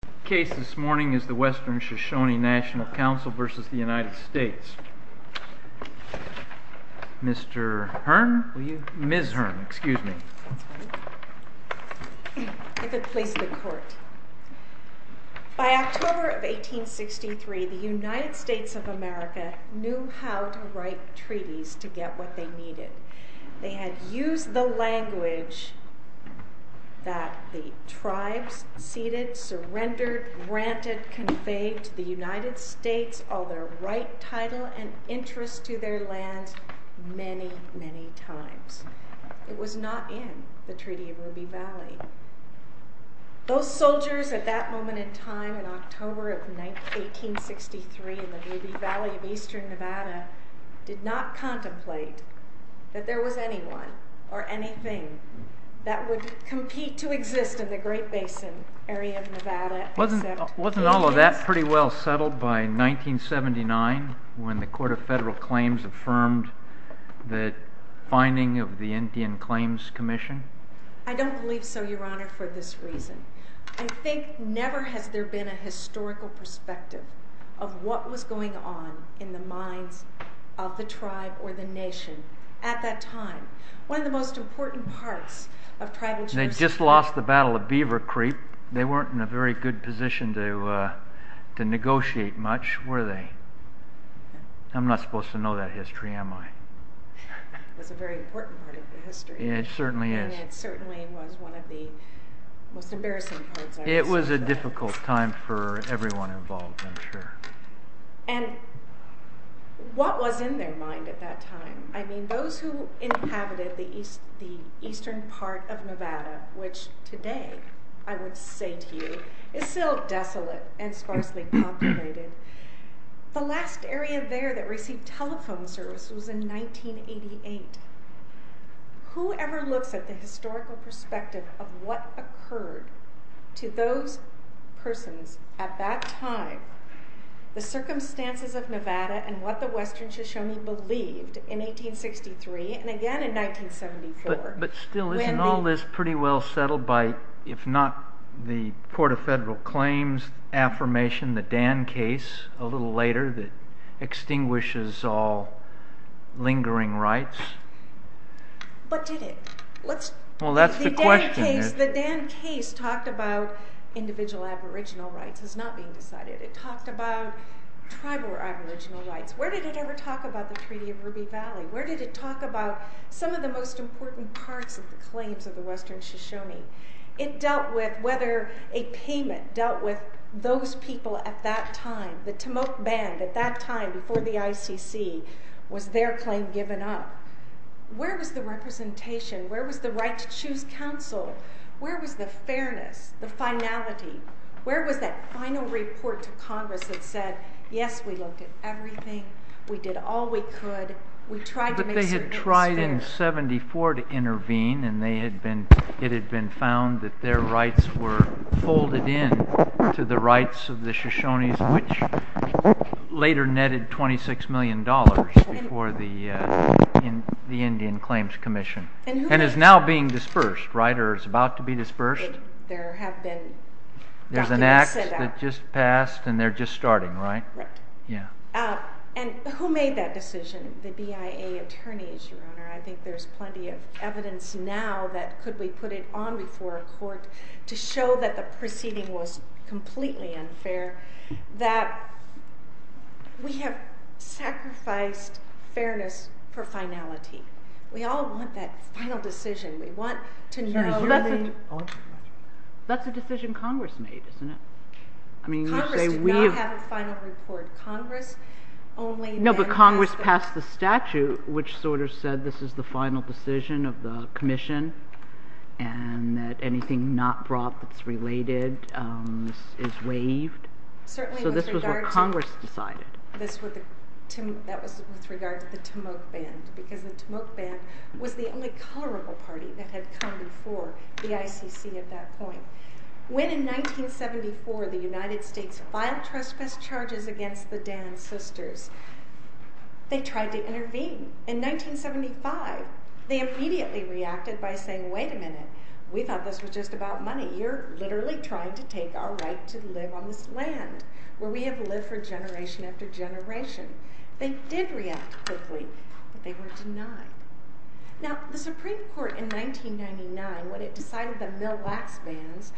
The case this morning is the Western Shoshone National Council v. United States. Ms. Hearn If it please the Court. By October of 1863, the United States of America knew how to write treaties to get what they needed. They had used the language that the tribes ceded, surrendered, granted, conveyed to the United States all their right, title, and interest to their lands many, many times. It was not in the Treaty of Ruby Valley. Those soldiers at that moment in time in October of 1863 in the Ruby Valley of eastern Nevada did not contemplate that there was anyone or anything that would compete to exist in the Great Basin area of Nevada. Wasn't all of that pretty well settled by 1979 when the Court of Federal Claims affirmed the finding of the Indian Claims Commission? I don't believe so, Your Honor, for this reason. I think never has there been a historical perspective of what was going on in the minds of the tribe or the nation at that time. One of the most important parts of tribal... They just lost the Battle of Beaver Creek. They weren't in a very good position to negotiate much, were they? I'm not supposed to know that history, am I? It was a very important part of their history. It certainly is. It certainly was one of the most embarrassing parts. It was a difficult time for everyone involved, I'm sure. And what was in their mind at that time? I mean, those who inhabited the eastern part of Nevada, which today I would say to you is still desolate and sparsely populated. The last area there that received telephone service was in 1988. Whoever looks at the historical perspective of what occurred to those persons at that time, the circumstances of Nevada and what the western Shoshone believed in 1863 and again in 1974... But still, isn't all this pretty well settled by, if not the Court of Federal Claims' affirmation, the Dan case a little later that extinguishes all lingering rights? But did it? Well, that's the question here. The Dan case talked about individual aboriginal rights as not being decided. It talked about tribal aboriginal rights. Where did it ever talk about the Treaty of Ruby Valley? Where did it talk about some of the most important parts of the claims of the western Shoshone? It dealt with whether a payment dealt with those people at that time. The Timok Band, at that time, before the ICC, was their claim given up. Where was the representation? Where was the right to choose counsel? Where was the fairness, the finality? Where was that final report to Congress that said, yes, we looked at everything, we did all we could, we tried to make sure it was fair? It was 1974 to intervene, and it had been found that their rights were folded in to the rights of the Shoshones, which later netted $26 million before the Indian Claims Commission. And is now being dispersed, right? Or is about to be dispersed? There have been documents set out. There's an act that just passed, and they're just starting, right? Right. And who made that decision? The BIA attorneys, Your Honor. I think there's plenty of evidence now that could we put it on before a court to show that the proceeding was completely unfair, that we have sacrificed fairness for finality. We all want that final decision. We want to know... That's a decision Congress made, isn't it? Congress did not have a final report. Congress only... No, but Congress passed the statute, which sort of said this is the final decision of the commission, and that anything not brought that's related is waived. So this was what Congress decided. That was with regard to the Timok Band, because the Timok Band was the only colorable party that had come before the ICC at that point. When in 1974 the United States filed trespass charges against the Dan Sisters, they tried to intervene. In 1975, they immediately reacted by saying, wait a minute. We thought this was just about money. You're literally trying to take our right to live on this land where we have lived for generation after generation. They did react quickly, but they were denied. Now, the Supreme Court in 1999, when it decided the Mill Wax Bands,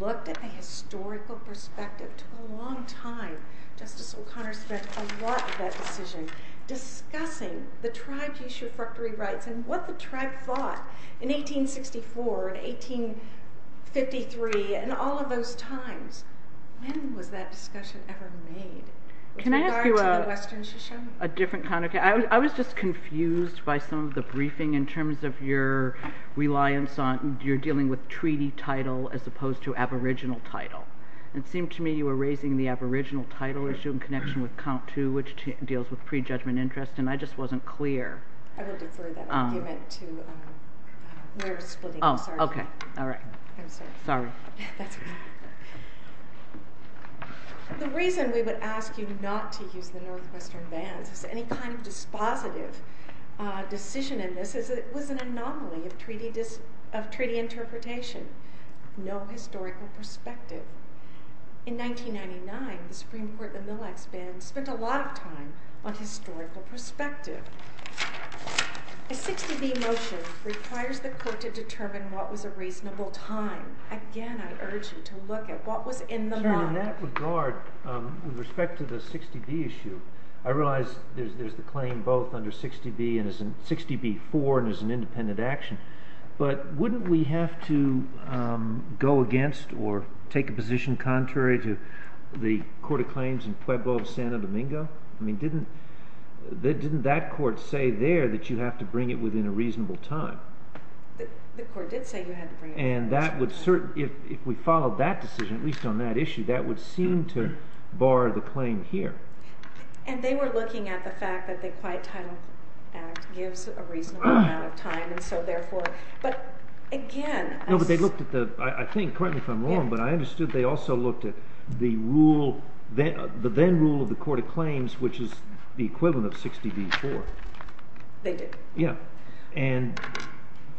looked at the historical perspective. It took a long time. Justice O'Connor spent a lot of that decision discussing the tribe's usurpery rights and what the tribe fought in 1864 and 1853 and all of those times. When was that discussion ever made? Can I ask you a different kind of question? I was just confused by some of the briefing in terms of your reliance on your dealing with treaty title as opposed to aboriginal title. It seemed to me you were raising the aboriginal title issue in connection with count two, which deals with prejudgment interest, and I just wasn't clear. I will defer that argument to where to split it. Oh, okay. All right. Sorry. The reason we would ask you not to use the Northwestern Bands as any kind of dispositive decision in this is that it was an anomaly of treaty interpretation, no historical perspective. In 1999, the Supreme Court in the Mill Wax Bands spent a lot of time on historical perspective. A 60-B motion requires the court to determine what was a reasonable time. Again, I urge you to look at what was in the mind. In that regard, with respect to the 60-B issue, I realize there's the claim both under 60-B and 60-B-4 and there's an independent action, but wouldn't we have to go against or take a position contrary to the court of claims in Pueblo of Santo Domingo? Didn't that court say there that you have to bring it within a reasonable time? The court did say you had to bring it within a reasonable time. If we followed that decision, at least on that issue, that would seem to bar the claim here. And they were looking at the fact that the Quiet Title Act gives a reasonable amount of time, and so therefore, but again... No, but they looked at the, I think, correct me if I'm wrong, but I understood they also looked at the rule, the then rule of the court of claims, which is the equivalent of 60-B-4. They did. Yeah, and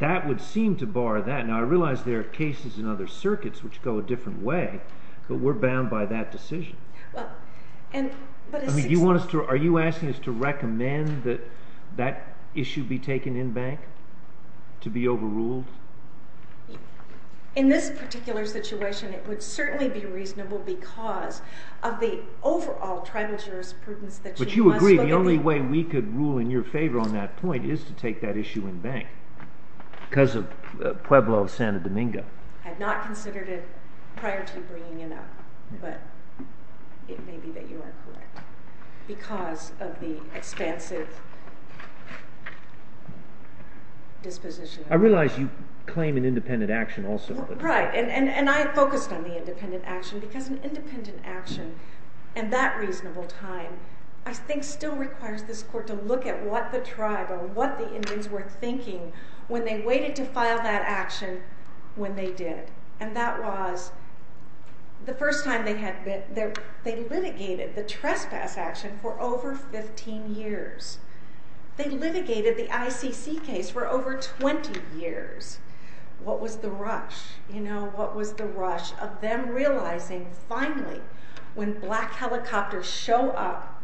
that would seem to bar that. Now I realize there are cases in other circuits which go a different way, but we're bound by that decision. Are you asking us to recommend that that issue be taken in bank, to be overruled? In this particular situation, it would certainly be reasonable because of the overall tribal jurisprudence that you must look at... But you agree the only way we could rule in your favor on that point is to take that issue in bank because of Pueblo of Santo Domingo. I had not considered it prior to bringing it up, but it may be that you are correct because of the expansive disposition. I realize you claim an independent action also. Right, and I focused on the independent action because an independent action and that reasonable time, I think, still requires this court to look at what the tribe or what the Indians were thinking when they waited to file that action when they did, and that was the first time they litigated the trespass action for over 15 years. They litigated the ICC case for over 20 years. What was the rush? What was the rush of them realizing finally when black helicopters show up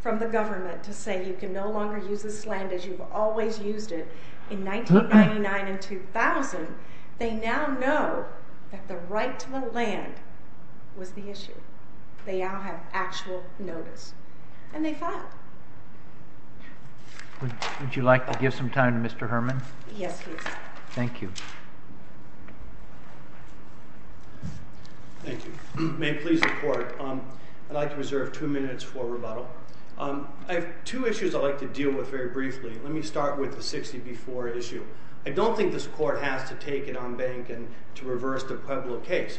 from the government to say you can no longer use this land as you've always used it in 1999 and 2000, they now know that the right to the land was the issue. They now have actual notice, and they filed. Would you like to give some time to Mr. Herman? Yes, please. Thank you. Thank you. May it please the court, I'd like to reserve two minutes for rebuttal. I have two issues I'd like to deal with very briefly. Let me start with the 60B4 issue. I don't think this court has to take it on bank and to reverse the Pueblo case.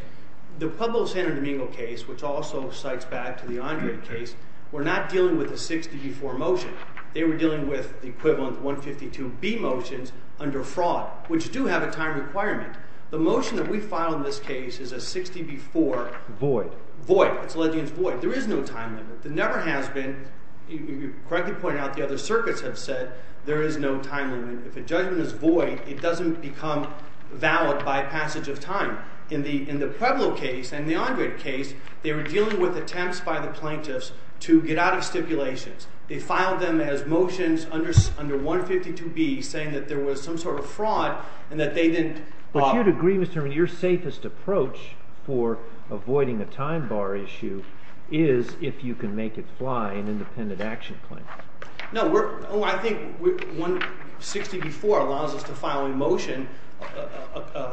The Pueblo-San Domingo case, which also cites back to the Andre case, were not dealing with a 60B4 motion. They were dealing with the equivalent 152B motions under fraud, which do have a time requirement. The motion that we filed in this case is a 60B4 void. It's a legion's void. There is no time limit. There never has been. You correctly pointed out the other circuits have said there is no time limit. If a judgment is void, it doesn't become valid by passage of time. In the Pueblo case and the Andre case, they were dealing with attempts by the plaintiffs to get out of stipulations. They filed them as motions under 152B saying that there was some sort of fraud and that they didn't bother. But you'd agree, Mr. Herman, your safest approach for avoiding a time bar issue is if you can make it fly an independent action claim. No, I think 60B4 allows us to file a motion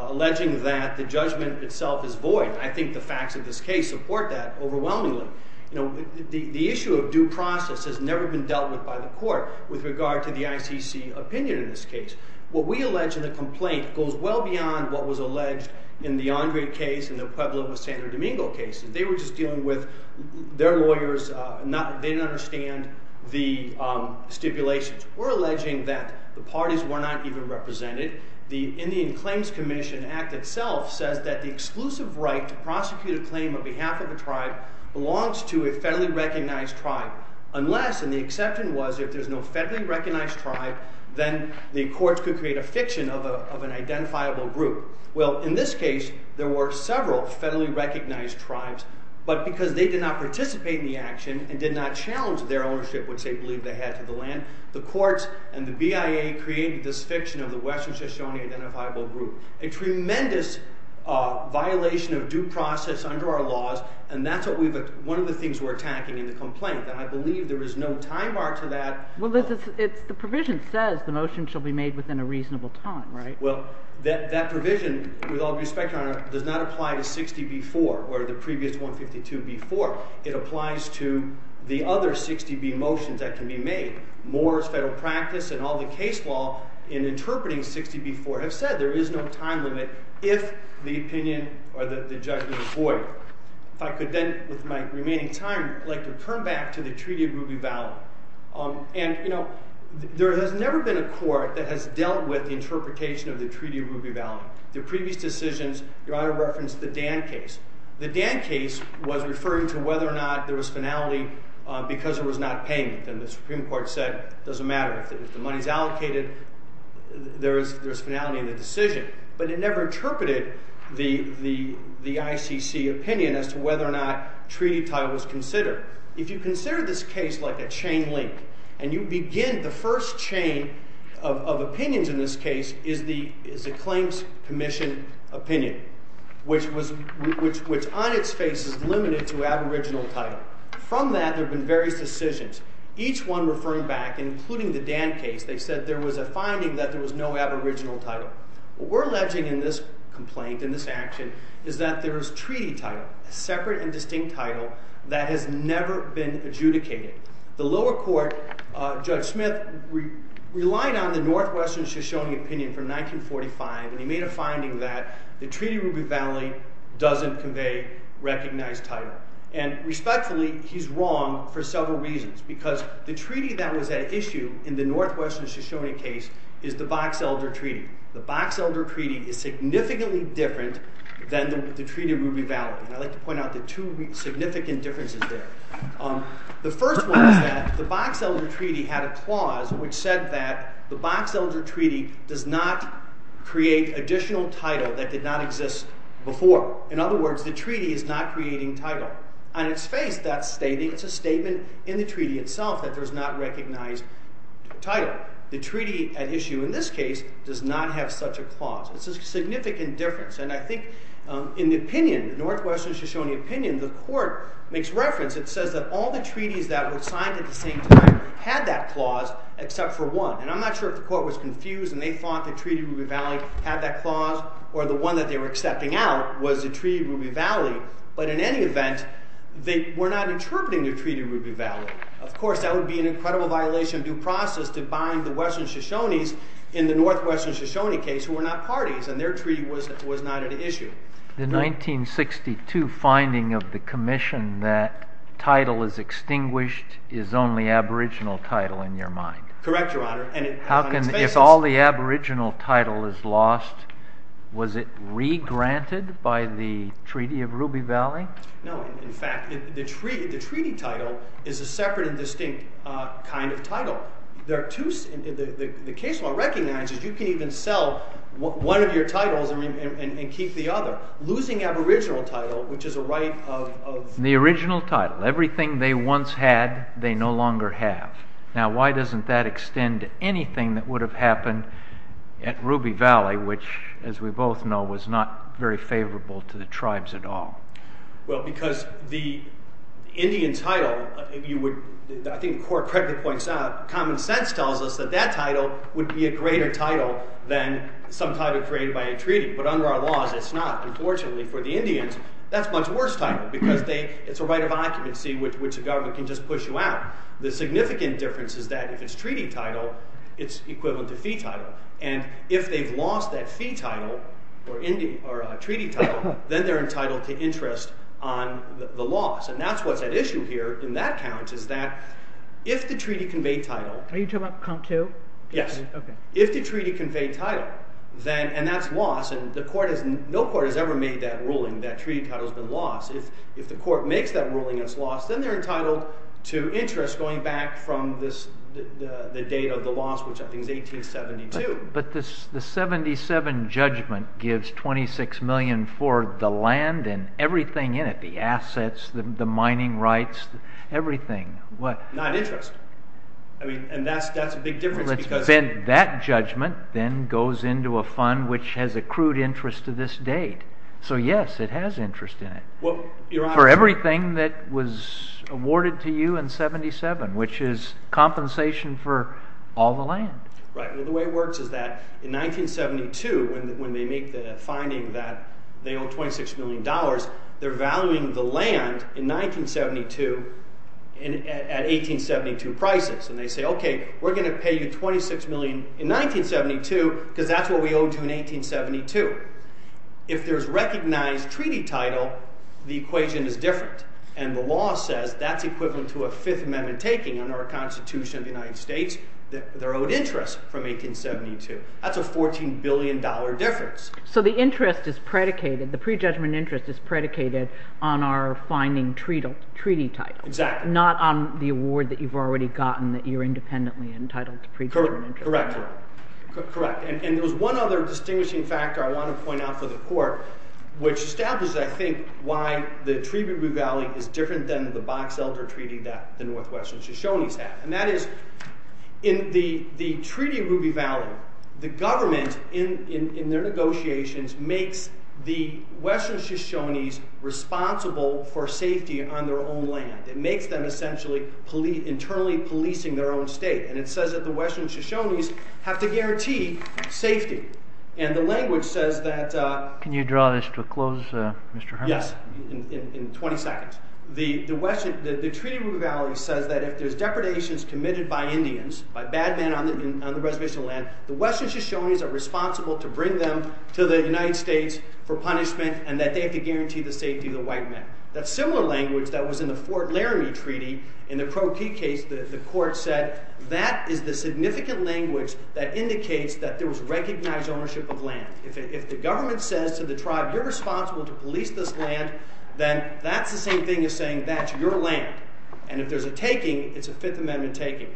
alleging that the judgment itself is void. I think the facts of this case support that overwhelmingly. The issue of due process has never been dealt with by the court with regard to the ICC opinion in this case. What we allege in the complaint goes well beyond what was alleged in the Andre case and the Pueblo-San Domingo case. They were just dealing with their lawyers. They didn't understand the stipulations. We're alleging that the parties were not even represented. The Indian Claims Commission Act itself says that the exclusive right to prosecute a claim on behalf of a tribe belongs to a federally recognized tribe unless, and the exception was if there's no federally recognized tribe, then the courts could create a fiction of an identifiable group. Well, in this case, there were several federally recognized tribes, but because they did not participate in the action and did not challenge their ownership, which they believed they had to the land, the courts and the BIA created this fiction of the Western Shoshone Identifiable Group, a tremendous violation of due process under our laws, and that's one of the things we're attacking in the complaint, that I believe there is no time bar to that. Well, Liz, the provision says the motion shall be made within a reasonable time, right? Well, that provision, with all due respect, Your Honor, does not apply to 60b-4 or the previous 152b-4. It applies to the other 60b motions that can be made. Moore's Federal Practice and all the case law in interpreting 60b-4 have said there is no time limit if the opinion or the judgment is void. If I could then, with my remaining time, I'd like to turn back to the Treaty of Ruby Valley. There has never been a court that has dealt with the interpretation of the Treaty of Ruby Valley. The previous decisions, Your Honor referenced the Dan case. The Dan case was referring to whether or not there was finality because there was not payment, and the Supreme Court said it doesn't matter. If the money is allocated, there is finality in the decision, but it never interpreted the ICC opinion as to whether or not treaty title was considered. If you consider this case like a chain link, and you begin the first chain of opinions in this case is the claims commission opinion, which on its face is limited to aboriginal title. From that, there have been various decisions, each one referring back, including the Dan case. They said there was a finding that there was no aboriginal title. What we're alleging in this complaint, in this action, is that there is treaty title, a separate and distinct title that has never been adjudicated. The lower court, Judge Smith, relied on the Northwestern Shoshone opinion from 1945, and he made a finding that the Treaty of Ruby Valley doesn't convey recognized title. Respectfully, he's wrong for several reasons because the treaty that was at issue in the Northwestern Shoshone case is the Box Elder Treaty. The Box Elder Treaty is significantly different than the Treaty of Ruby Valley. I'd like to point out the two significant differences there. The first one is that the Box Elder Treaty had a clause which said that the Box Elder Treaty does not create additional title that did not exist before. In other words, the treaty is not creating title. On its face, it's a statement in the treaty itself that there's not recognized title. The treaty at issue in this case does not have such a clause. It's a significant difference. I think in the opinion, the Northwestern Shoshone opinion, the court makes reference. It says that all the treaties that were signed at the same time had that clause except for one. I'm not sure if the court was confused and they thought the Treaty of Ruby Valley had that clause or the one that they were accepting out was the Treaty of Ruby Valley, but in any event, they were not interpreting the Treaty of Ruby Valley. Of course, that would be an incredible violation of due process to bind the Western Shoshones in the Northwestern Shoshone case who were not parties and their treaty was not at issue. The 1962 finding of the commission that title is extinguished is only aboriginal title in your mind. Correct, Your Honor. If all the aboriginal title is lost, was it re-granted by the Treaty of Ruby Valley? No. In fact, the treaty title is a separate and distinct kind of title. The case law recognizes you can even sell one of your titles and keep the other. Losing aboriginal title, which is a right of… The original title, everything they once had, they no longer have. Now, why doesn't that extend to anything that would have happened at Ruby Valley, which, as we both know, was not very favorable to the tribes at all? Well, because the Indian title, I think the court correctly points out, common sense tells us that that title would be a greater title than some title created by a treaty. But under our laws, it's not. Unfortunately for the Indians, that's a much worse title because it's a right of occupancy, which the government can just push you out. The significant difference is that if it's treaty title, it's equivalent to fee title. And if they've lost that fee title or treaty title, then they're entitled to interest on the loss. And that's what's at issue here in that count is that if the treaty conveyed title… Are you talking about count two? Yes. Okay. If the treaty conveyed title, and that's loss, and no court has ever made that ruling that treaty title's been lost. If the court makes that ruling as loss, then they're entitled to interest going back from the date of the loss, which I think is 1872. But the 77 judgment gives $26 million for the land and everything in it, the assets, the mining rights, everything. Not interest. And that's a big difference because… That judgment then goes into a fund, which has accrued interest to this date. So, yes, it has interest in it. For everything that was awarded to you in 77, which is compensation for all the land. Right. Well, the way it works is that in 1972, when they make the finding that they owe $26 million, they're valuing the land in 1972 at 1872 prices. And they say, okay, we're going to pay you $26 million in 1972 because that's what we owed you in 1872. If there's recognized treaty title, the equation is different. And the law says that's equivalent to a Fifth Amendment taking under a constitution of the United States that they're owed interest from 1872. That's a $14 billion difference. So the interest is predicated, the prejudgment interest is predicated on our finding treaty title. Exactly. Not on the award that you've already gotten that you're independently entitled to prejudgment interest. Correct. And there's one other distinguishing factor I want to point out for the court, which establishes, I think, why the Treaty of Ruby Valley is different than the Box Elder Treaty that the Northwestern Shoshones have. And that is, in the Treaty of Ruby Valley, the government, in their negotiations, makes the Western Shoshones responsible for safety on their own land. It makes them essentially internally policing their own state. And it says that the Western Shoshones have to guarantee safety. And the language says that... Can you draw this to a close, Mr. Herman? Yes, in 20 seconds. The Treaty of Ruby Valley says that if there's depredations committed by Indians, by bad men on the reservation land, the Western Shoshones are responsible to bring them to the United States for punishment and that they have to guarantee the safety of the white men. That's similar language that was in the Fort Laramie Treaty. In the Crow Key case, the court said that is the significant language that indicates that there was recognized ownership of land. If the government says to the tribe, you're responsible to police this land, then that's the same thing as saying that's your land. And if there's a taking, it's a Fifth Amendment taking.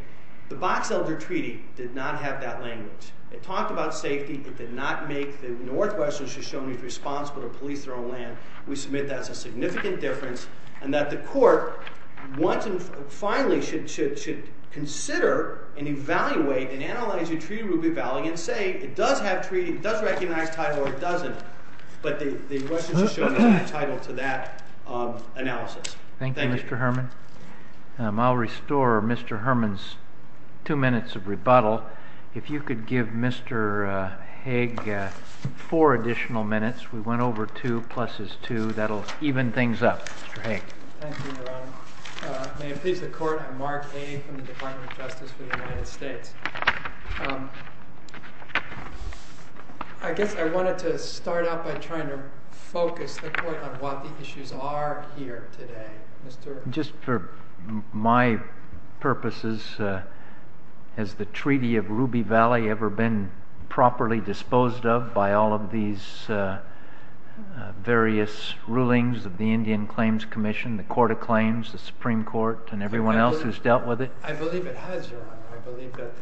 The Box Elder Treaty did not have that language. It talked about safety. It did not make the Northwestern Shoshones responsible to police their own land. We submit that's a significant difference and that the court once and finally should consider and evaluate and analyze the Treaty of Ruby Valley and say it does have treaty, it does recognize title or it doesn't, but the Western Shoshones have no title to that analysis. Thank you, Mr. Herman. I'll restore Mr. Herman's two minutes of rebuttal. If you could give Mr. Haig four additional minutes. We went over two. Plus is two. That will even things up. Mr. Haig. Thank you, Your Honor. May it please the Court, I'm Mark Haig from the Department of Justice for the United States. I guess I wanted to start out by trying to focus the point on what the issues are here today. Just for my purposes, has the Treaty of Ruby Valley ever been properly disposed of by all of these various rulings of the Indian Claims Commission, the Court of Claims, the Supreme Court, and everyone else who's dealt with it? I believe it has, Your Honor. I believe that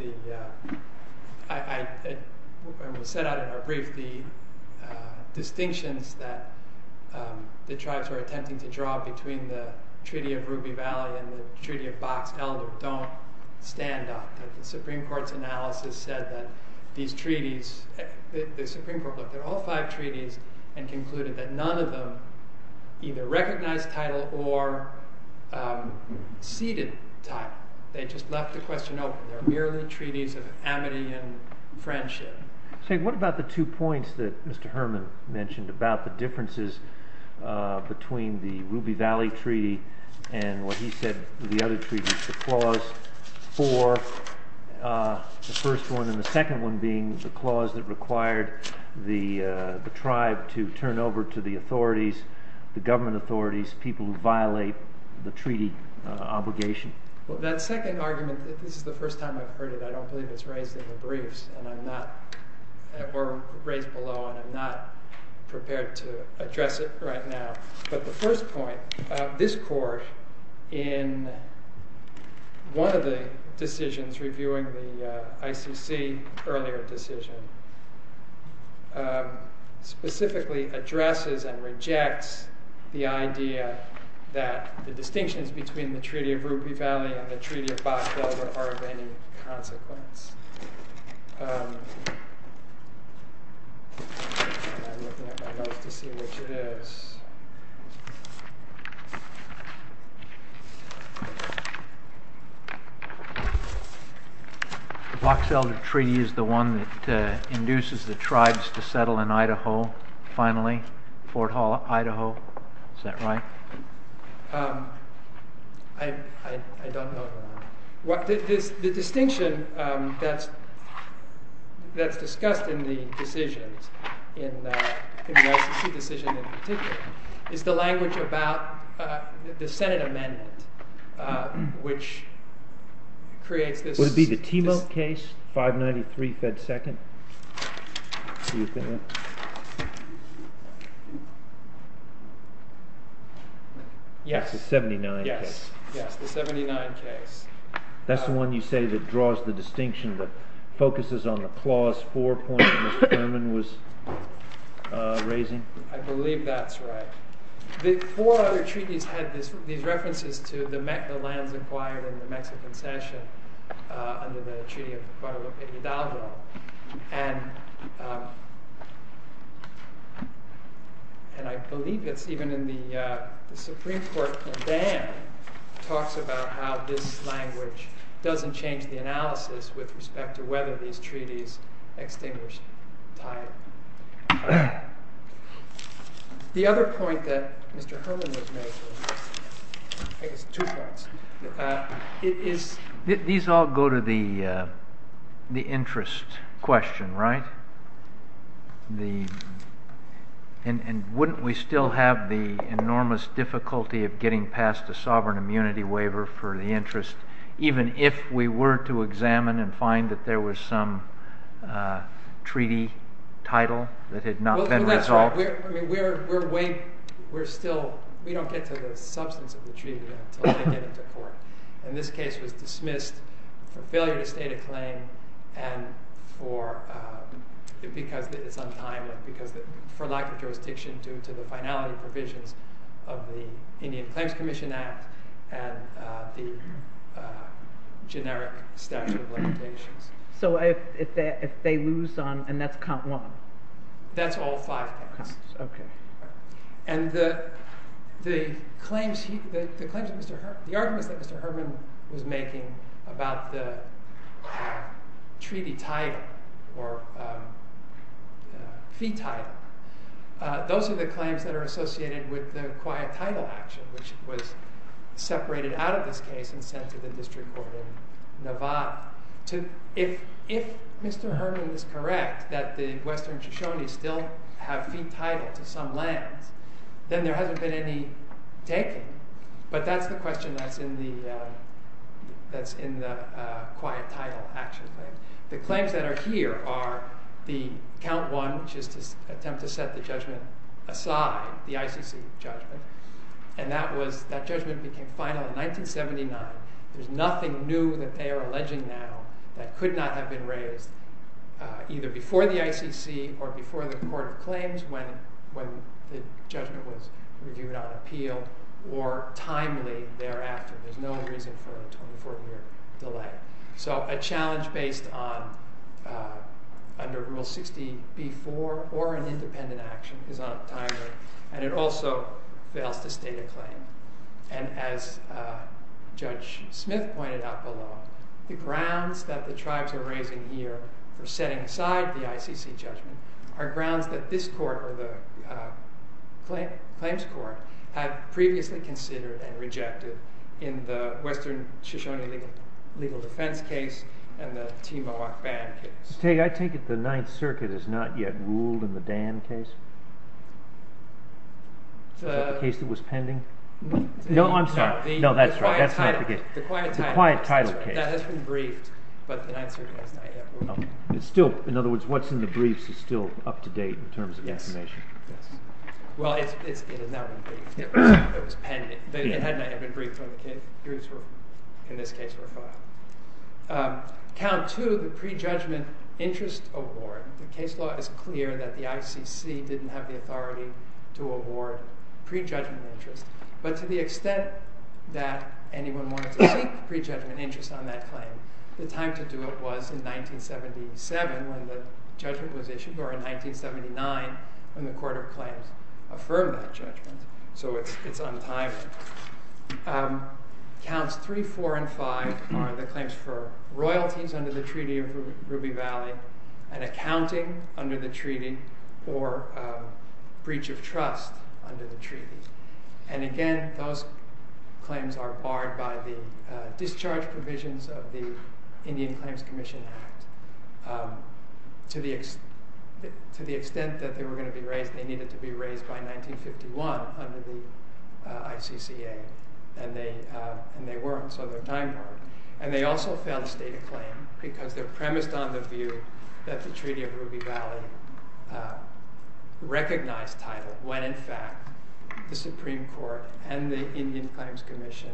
when we set out in our brief, the distinctions that the tribes were attempting to draw between the Treaty of Ruby Valley and the Treaty of Box Elder don't stand up. The Supreme Court's analysis said that these treaties, the Supreme Court looked at all five treaties and concluded that none of them either recognized title or ceded title. They just left the question open. They're merely treaties of amity and friendship. What about the two points that Mr. Herman mentioned about the differences between the Ruby Valley Treaty and what he said were the other treaties, the Clause 4, the first one, and the second one being the clause that required the tribe to turn over to the authorities, the government authorities, people who violate the treaty obligation? Well, that second argument, this is the first time I've heard it. I don't believe it's raised in the briefs or raised below, and I'm not prepared to address it right now. But the first point, this court, in one of the decisions reviewing the ICC earlier decision, specifically addresses and rejects the idea that the distinctions between the Treaty of Ruby Valley and the Treaty of Box Elder are of any consequence. I'm looking at my notes to see which it is. The Box Elder Treaty is the one that induces the tribes to settle in Idaho, finally, Fort Hall, Idaho. Is that right? I don't know. The distinction that's discussed in the decisions, in the ICC decision in particular, is the language about the Senate amendment, which creates this... Would it be the Timo case, 593 Fed Second? Do you think it's... Yes. It's the 79 case. Yes, the 79 case. That's the one you say that draws the distinction, that focuses on the Clause 4 point that Mr. Thurman was raising? I believe that's right. The four other treaties had these references to the lands acquired in the Mexican Cession under the Treaty of Guadalupe Hidalgo. And I believe it's even in the Supreme Court Condam talks about how this language doesn't change the analysis with respect to whether these treaties extinguish time. The other point that Mr. Thurman was making, I guess two points, is... These all go to the interest question, right? And wouldn't we still have the enormous difficulty of getting past a sovereign immunity waiver for the interest, even if we were to examine and find that there was some treaty title that had not been resolved? We're still... We don't get to the substance of the treaty until they get it to court. And this case was dismissed for failure to state a claim and for... Because it's untimely, because for lack of jurisdiction due to the finality provisions of the Indian Claims Commission Act and the generic statute of limitations. So if they lose on... And that's count one. That's all five cases. Okay. And the claims... The arguments that Mr. Herman was making about the treaty title or fee title, those are the claims that are associated with the quiet title action, which was separated out of this case and sent to the district court in Nevada. If Mr. Herman is correct that the western Shoshone still have fee title to some lands, then there hasn't been any taking. But that's the question that's in the quiet title action claim. The claims that are here are the count one, which is to attempt to set the judgment aside, the ICC judgment. And that judgment became final in 1979. There's nothing new that they are alleging now that could not have been raised either before the ICC or before the Court of Claims when the judgment was reviewed on appeal or timely thereafter. There's no reason for a 24-year delay. So a challenge based on... under Rule 60b-4 or an independent action is not timely. And it also fails to state a claim. And as Judge Smith pointed out below, the grounds that the tribes are raising here for setting aside the ICC judgment are grounds that this court or the claims court had previously considered and rejected in the western Shoshone legal defense case and the Timohawk Band case. I take it the Ninth Circuit has not yet ruled in the Dan case? Is that the case that was pending? No, I'm sorry. No, that's right. That's not the case. The Quiet Title case. That has been briefed, but the Ninth Circuit has not yet ruled. In other words, what's in the briefs is still up-to-date in terms of information? Yes. Well, it has not been briefed. It was pending. It had not yet been briefed. In this case, it was filed. Count two, the prejudgment interest award. The case law is clear that the ICC didn't have the authority to award prejudgment interest, but to the extent that anyone wanted to seek prejudgment interest on that claim, the time to do it was in 1977 when the judgment was issued, or in 1979 when the court of claims affirmed that judgment, so it's untimely. Counts three, four, and five are the claims for royalties under the Treaty of Ruby Valley and accounting under the Treaty or breach of trust under the Treaty. And again, those claims are barred by the discharge provisions of the Indian Claims Commission Act. To the extent that they were going to be raised, they needed to be raised by 1951 under the ICCA, and they weren't, so their time barred. And they also failed to state a claim because they're premised on the view that the Treaty of Ruby Valley recognized title when in fact the Supreme Court and the Indian Claims Commission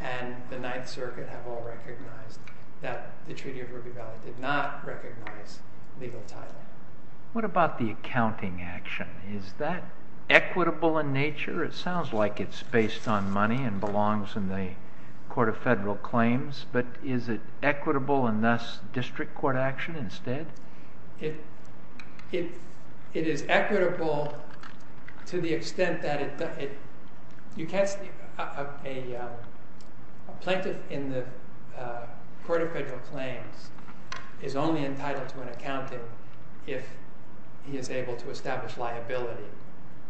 and the Ninth Circuit have all recognized that the Treaty of Ruby Valley did not recognize legal title. What about the accounting action? Is that equitable in nature? It sounds like it's based on money and belongs in the Court of Federal Claims, but is it equitable and thus district court action instead? It is equitable to the extent that it... You can't... A plaintiff in the Court of Federal Claims is only entitled to an accounting if he is able to establish liability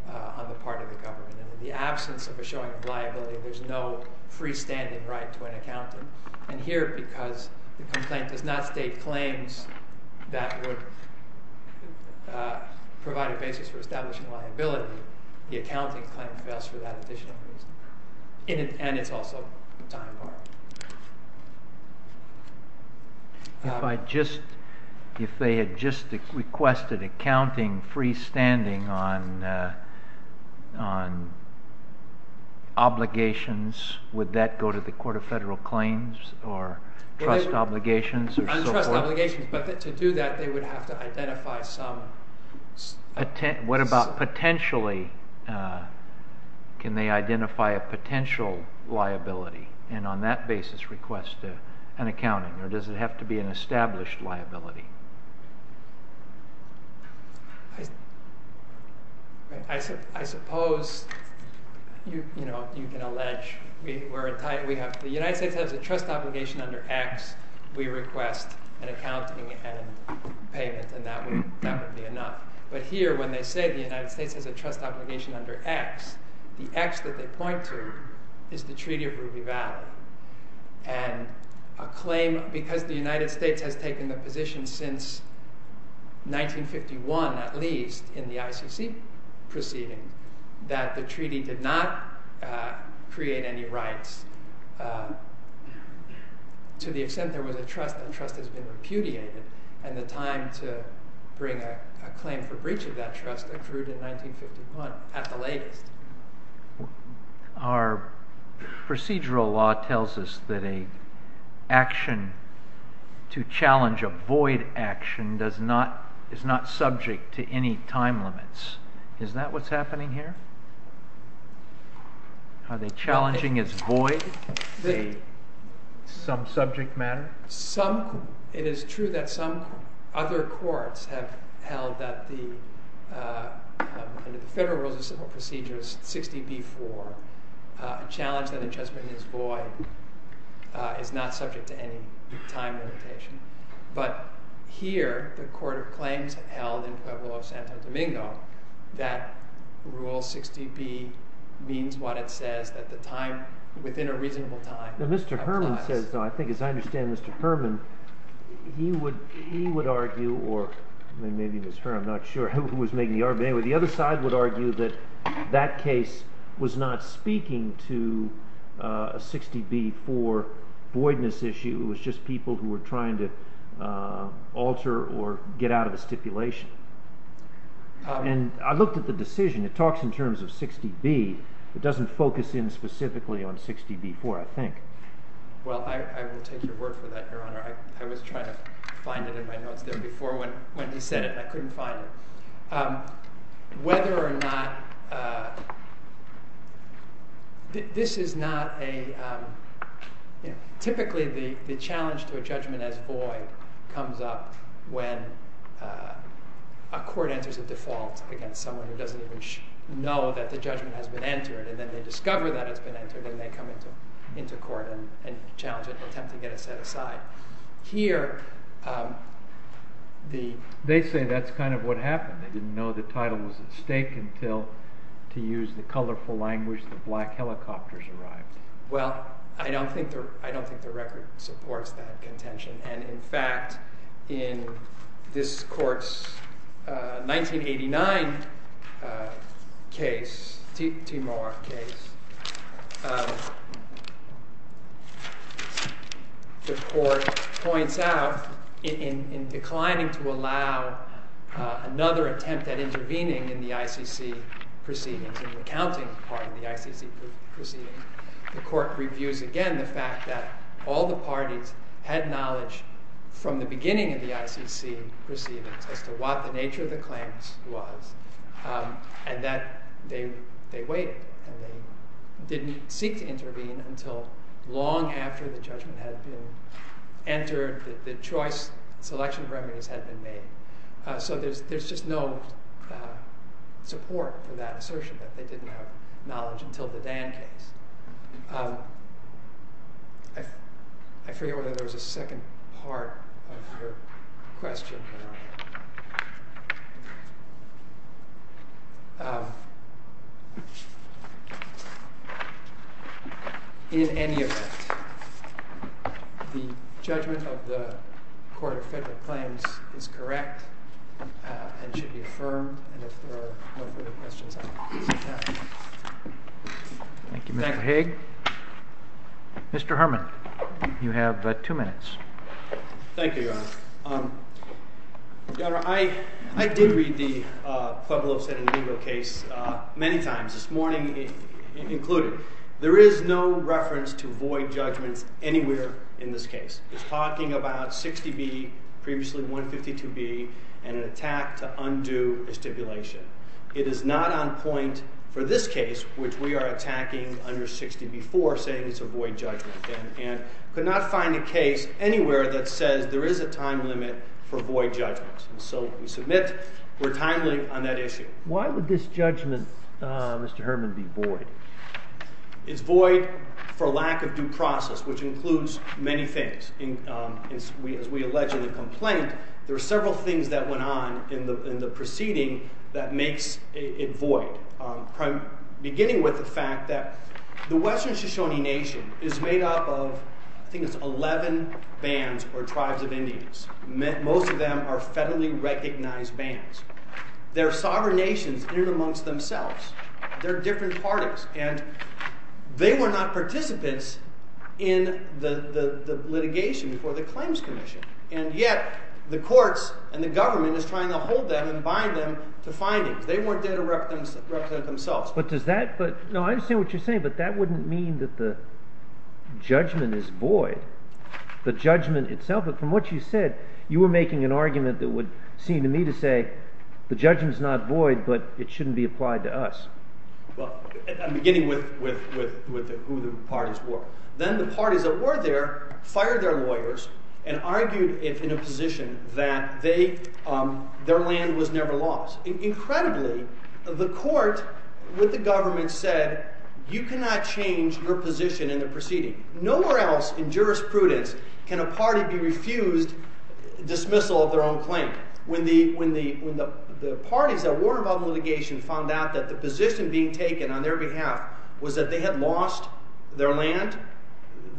on the part of the government, and in the absence of a showing of liability there's no freestanding right to an accounting. And here, because the complaint does not state claims that would provide a basis for establishing liability, the accounting claim fails for that additional reason. And it's also a time bar. If I just... If they had just requested accounting freestanding on obligations, would that go to the Court of Federal Claims or trust obligations or so forth? On trust obligations, but to do that they would have to identify some... What about potentially? Can they identify a potential liability and on that basis request an accounting, or does it have to be an established liability? I suppose you can allege... The United States has a trust obligation under X. We request an accounting and payment and that would be enough. But here, when they say the United States has a trust obligation under X, the X that they point to is the Treaty of Ruby Valley. And a claim, because the United States has taken the position since 1951 at least in the ICC proceeding, that the treaty did not create any rights to the extent there was a trust and trust has been repudiated. And the time to bring a claim for breach of that trust accrued in 1951 at the latest. Our procedural law tells us that an action to challenge a void action is not subject to any time limits. Is that what's happening here? Are they challenging as void some subject matter? It is true that some other courts have held that the Federal Rules of Procedure 60b-4 challenge that a judgment is void is not subject to any time limitation. But here, the Court of Claims held in Pueblo of Santo Domingo that Rule 60b means what it says that the time, within a reasonable time... Now, Mr. Herman says, though, I think as I understand Mr. Herman, he would argue, or maybe Ms. Herman, I'm not sure who was making the argument, but anyway, the other side would argue that that case was not speaking to a 60b-4 voidness issue. It was just people who were trying to alter or get out of the stipulation. And I looked at the decision. It talks in terms of 60b. It doesn't focus in specifically on 60b-4, I think. Well, I will take your word for that, Your Honor. I was trying to find it in my notes there before when he said it, and I couldn't find it. Whether or not... This is not a... Typically, the challenge to a judgment as void comes up when a court enters a default against someone who doesn't even know that the judgment has been entered, and then they discover that it's been entered, and they come into court and challenge it and attempt to get it set aside. Here, the... No, the title was at stake until, to use the colorful language, the black helicopters arrived. Well, I don't think the record supports that contention. And in fact, in this court's 1989 case, Timor case, the court points out in declining to allow another attempt at intervening in the ICC proceedings and recounting part of the ICC proceedings. The court reviews again the fact that all the parties had knowledge from the beginning of the ICC proceedings as to what the nature of the claims was, and that they waited, and they didn't seek to intervene until long after the judgment had been entered, the choice, selection of remedies had been made. So there's just no support for that assertion that they didn't have knowledge until the Dan case. I forget whether there was a second part of your question. In any event, the judgment of the Court of Federal Claims is correct and should be affirmed, and if there are no further questions, I will proceed to that. Thank you, Mr. Hague. Mr. Herman, you have two minutes. Thank you, Your Honor. Your Honor, I did read the Pueblo San Indigo case many times, this morning included. There is no reference to void judgments anywhere in this case. It's talking about 60B, previously 152B, and an attack to undo a stipulation. It is not on point for this case, which we are attacking under 60B-4, saying it's a void judgment, and could not find a case anywhere that says there is a time limit for void judgments. So we submit we're timely on that issue. Why would this judgment, Mr. Herman, be void? It's void for lack of due process, which includes many things. As we allege in the complaint, there are several things that went on in the proceeding that makes it void, beginning with the fact that the Western Shoshone Nation is made up of, I think it's 11 bands or tribes of Indians. Most of them are federally recognized bands. They're sovereign nations in amongst themselves. They're different parties, and they were not participants in the litigation before the Claims Commission. And yet, the courts and the government is trying to hold them and bind them to findings. They weren't there to represent themselves. But does that... No, I understand what you're saying, but that wouldn't mean that the judgment is void. The judgment itself... But from what you said, you were making an argument that would seem to me to say, the judgment is not void, but it shouldn't be applied to us. Well, I'm beginning with who the parties were. Then the parties that were there fired their lawyers and argued in a position that their land was never lost. Incredibly, the court with the government said, you cannot change your position in the proceeding. Nowhere else in jurisprudence can a party be refused dismissal of their own claim. When the parties that were involved in litigation found out that the position being taken on their behalf was that they had lost their land,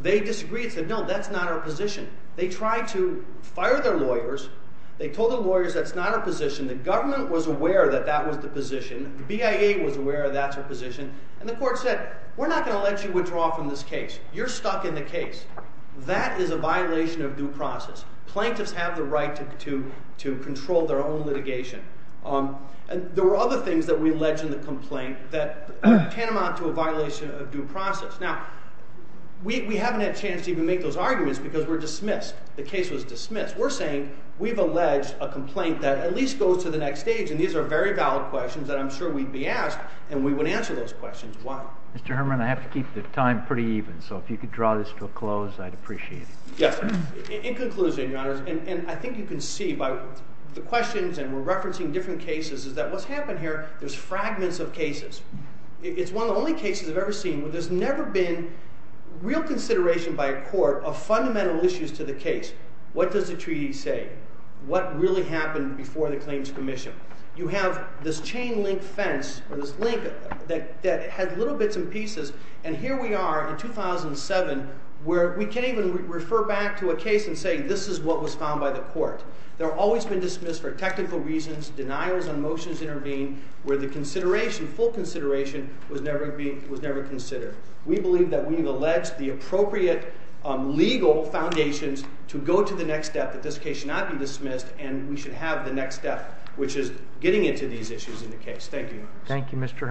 they disagreed and said, no, that's not our position. They tried to fire their lawyers. They told the lawyers that's not our position. The government was aware that that was the position. The BIA was aware that's our position. And the court said, we're not going to let you withdraw from this case. You're stuck in the case. That is a violation of due process. Plaintiffs have the right to control their own litigation. There were other things that we alleged in the complaint that tantamount to a violation of due process. Now, we haven't had a chance to even make those arguments because we're dismissed. The case was dismissed. We're saying we've alleged a complaint that at least goes to the next stage, and these are very valid questions that I'm sure we'd be asked, and we would answer those questions as well. Mr. Herman, I have to keep the time pretty even, so if you could draw this to a close, I'd appreciate it. Yes. In conclusion, Your Honors, and I think you can see by the questions and we're referencing different cases is that what's happened here, there's fragments of cases. It's one of the only cases I've ever seen where there's never been real consideration by a court of fundamental issues to the case. What does the treaty say? What really happened before the Claims Commission? You have this chain-link fence, or this link that had little bits and pieces, and here we are in 2007 where we can't even refer back to a case and say this is what was found by the court. They're always been dismissed for technical reasons, denials on motions intervened, where the consideration, full consideration, was never considered. We believe that we've alleged the appropriate legal foundations to go to the next step, that this case should not be dismissed, and we should have the next step, which is getting into these issues in the case. Thank you, Your Honors. Thank you, Mr. Herman.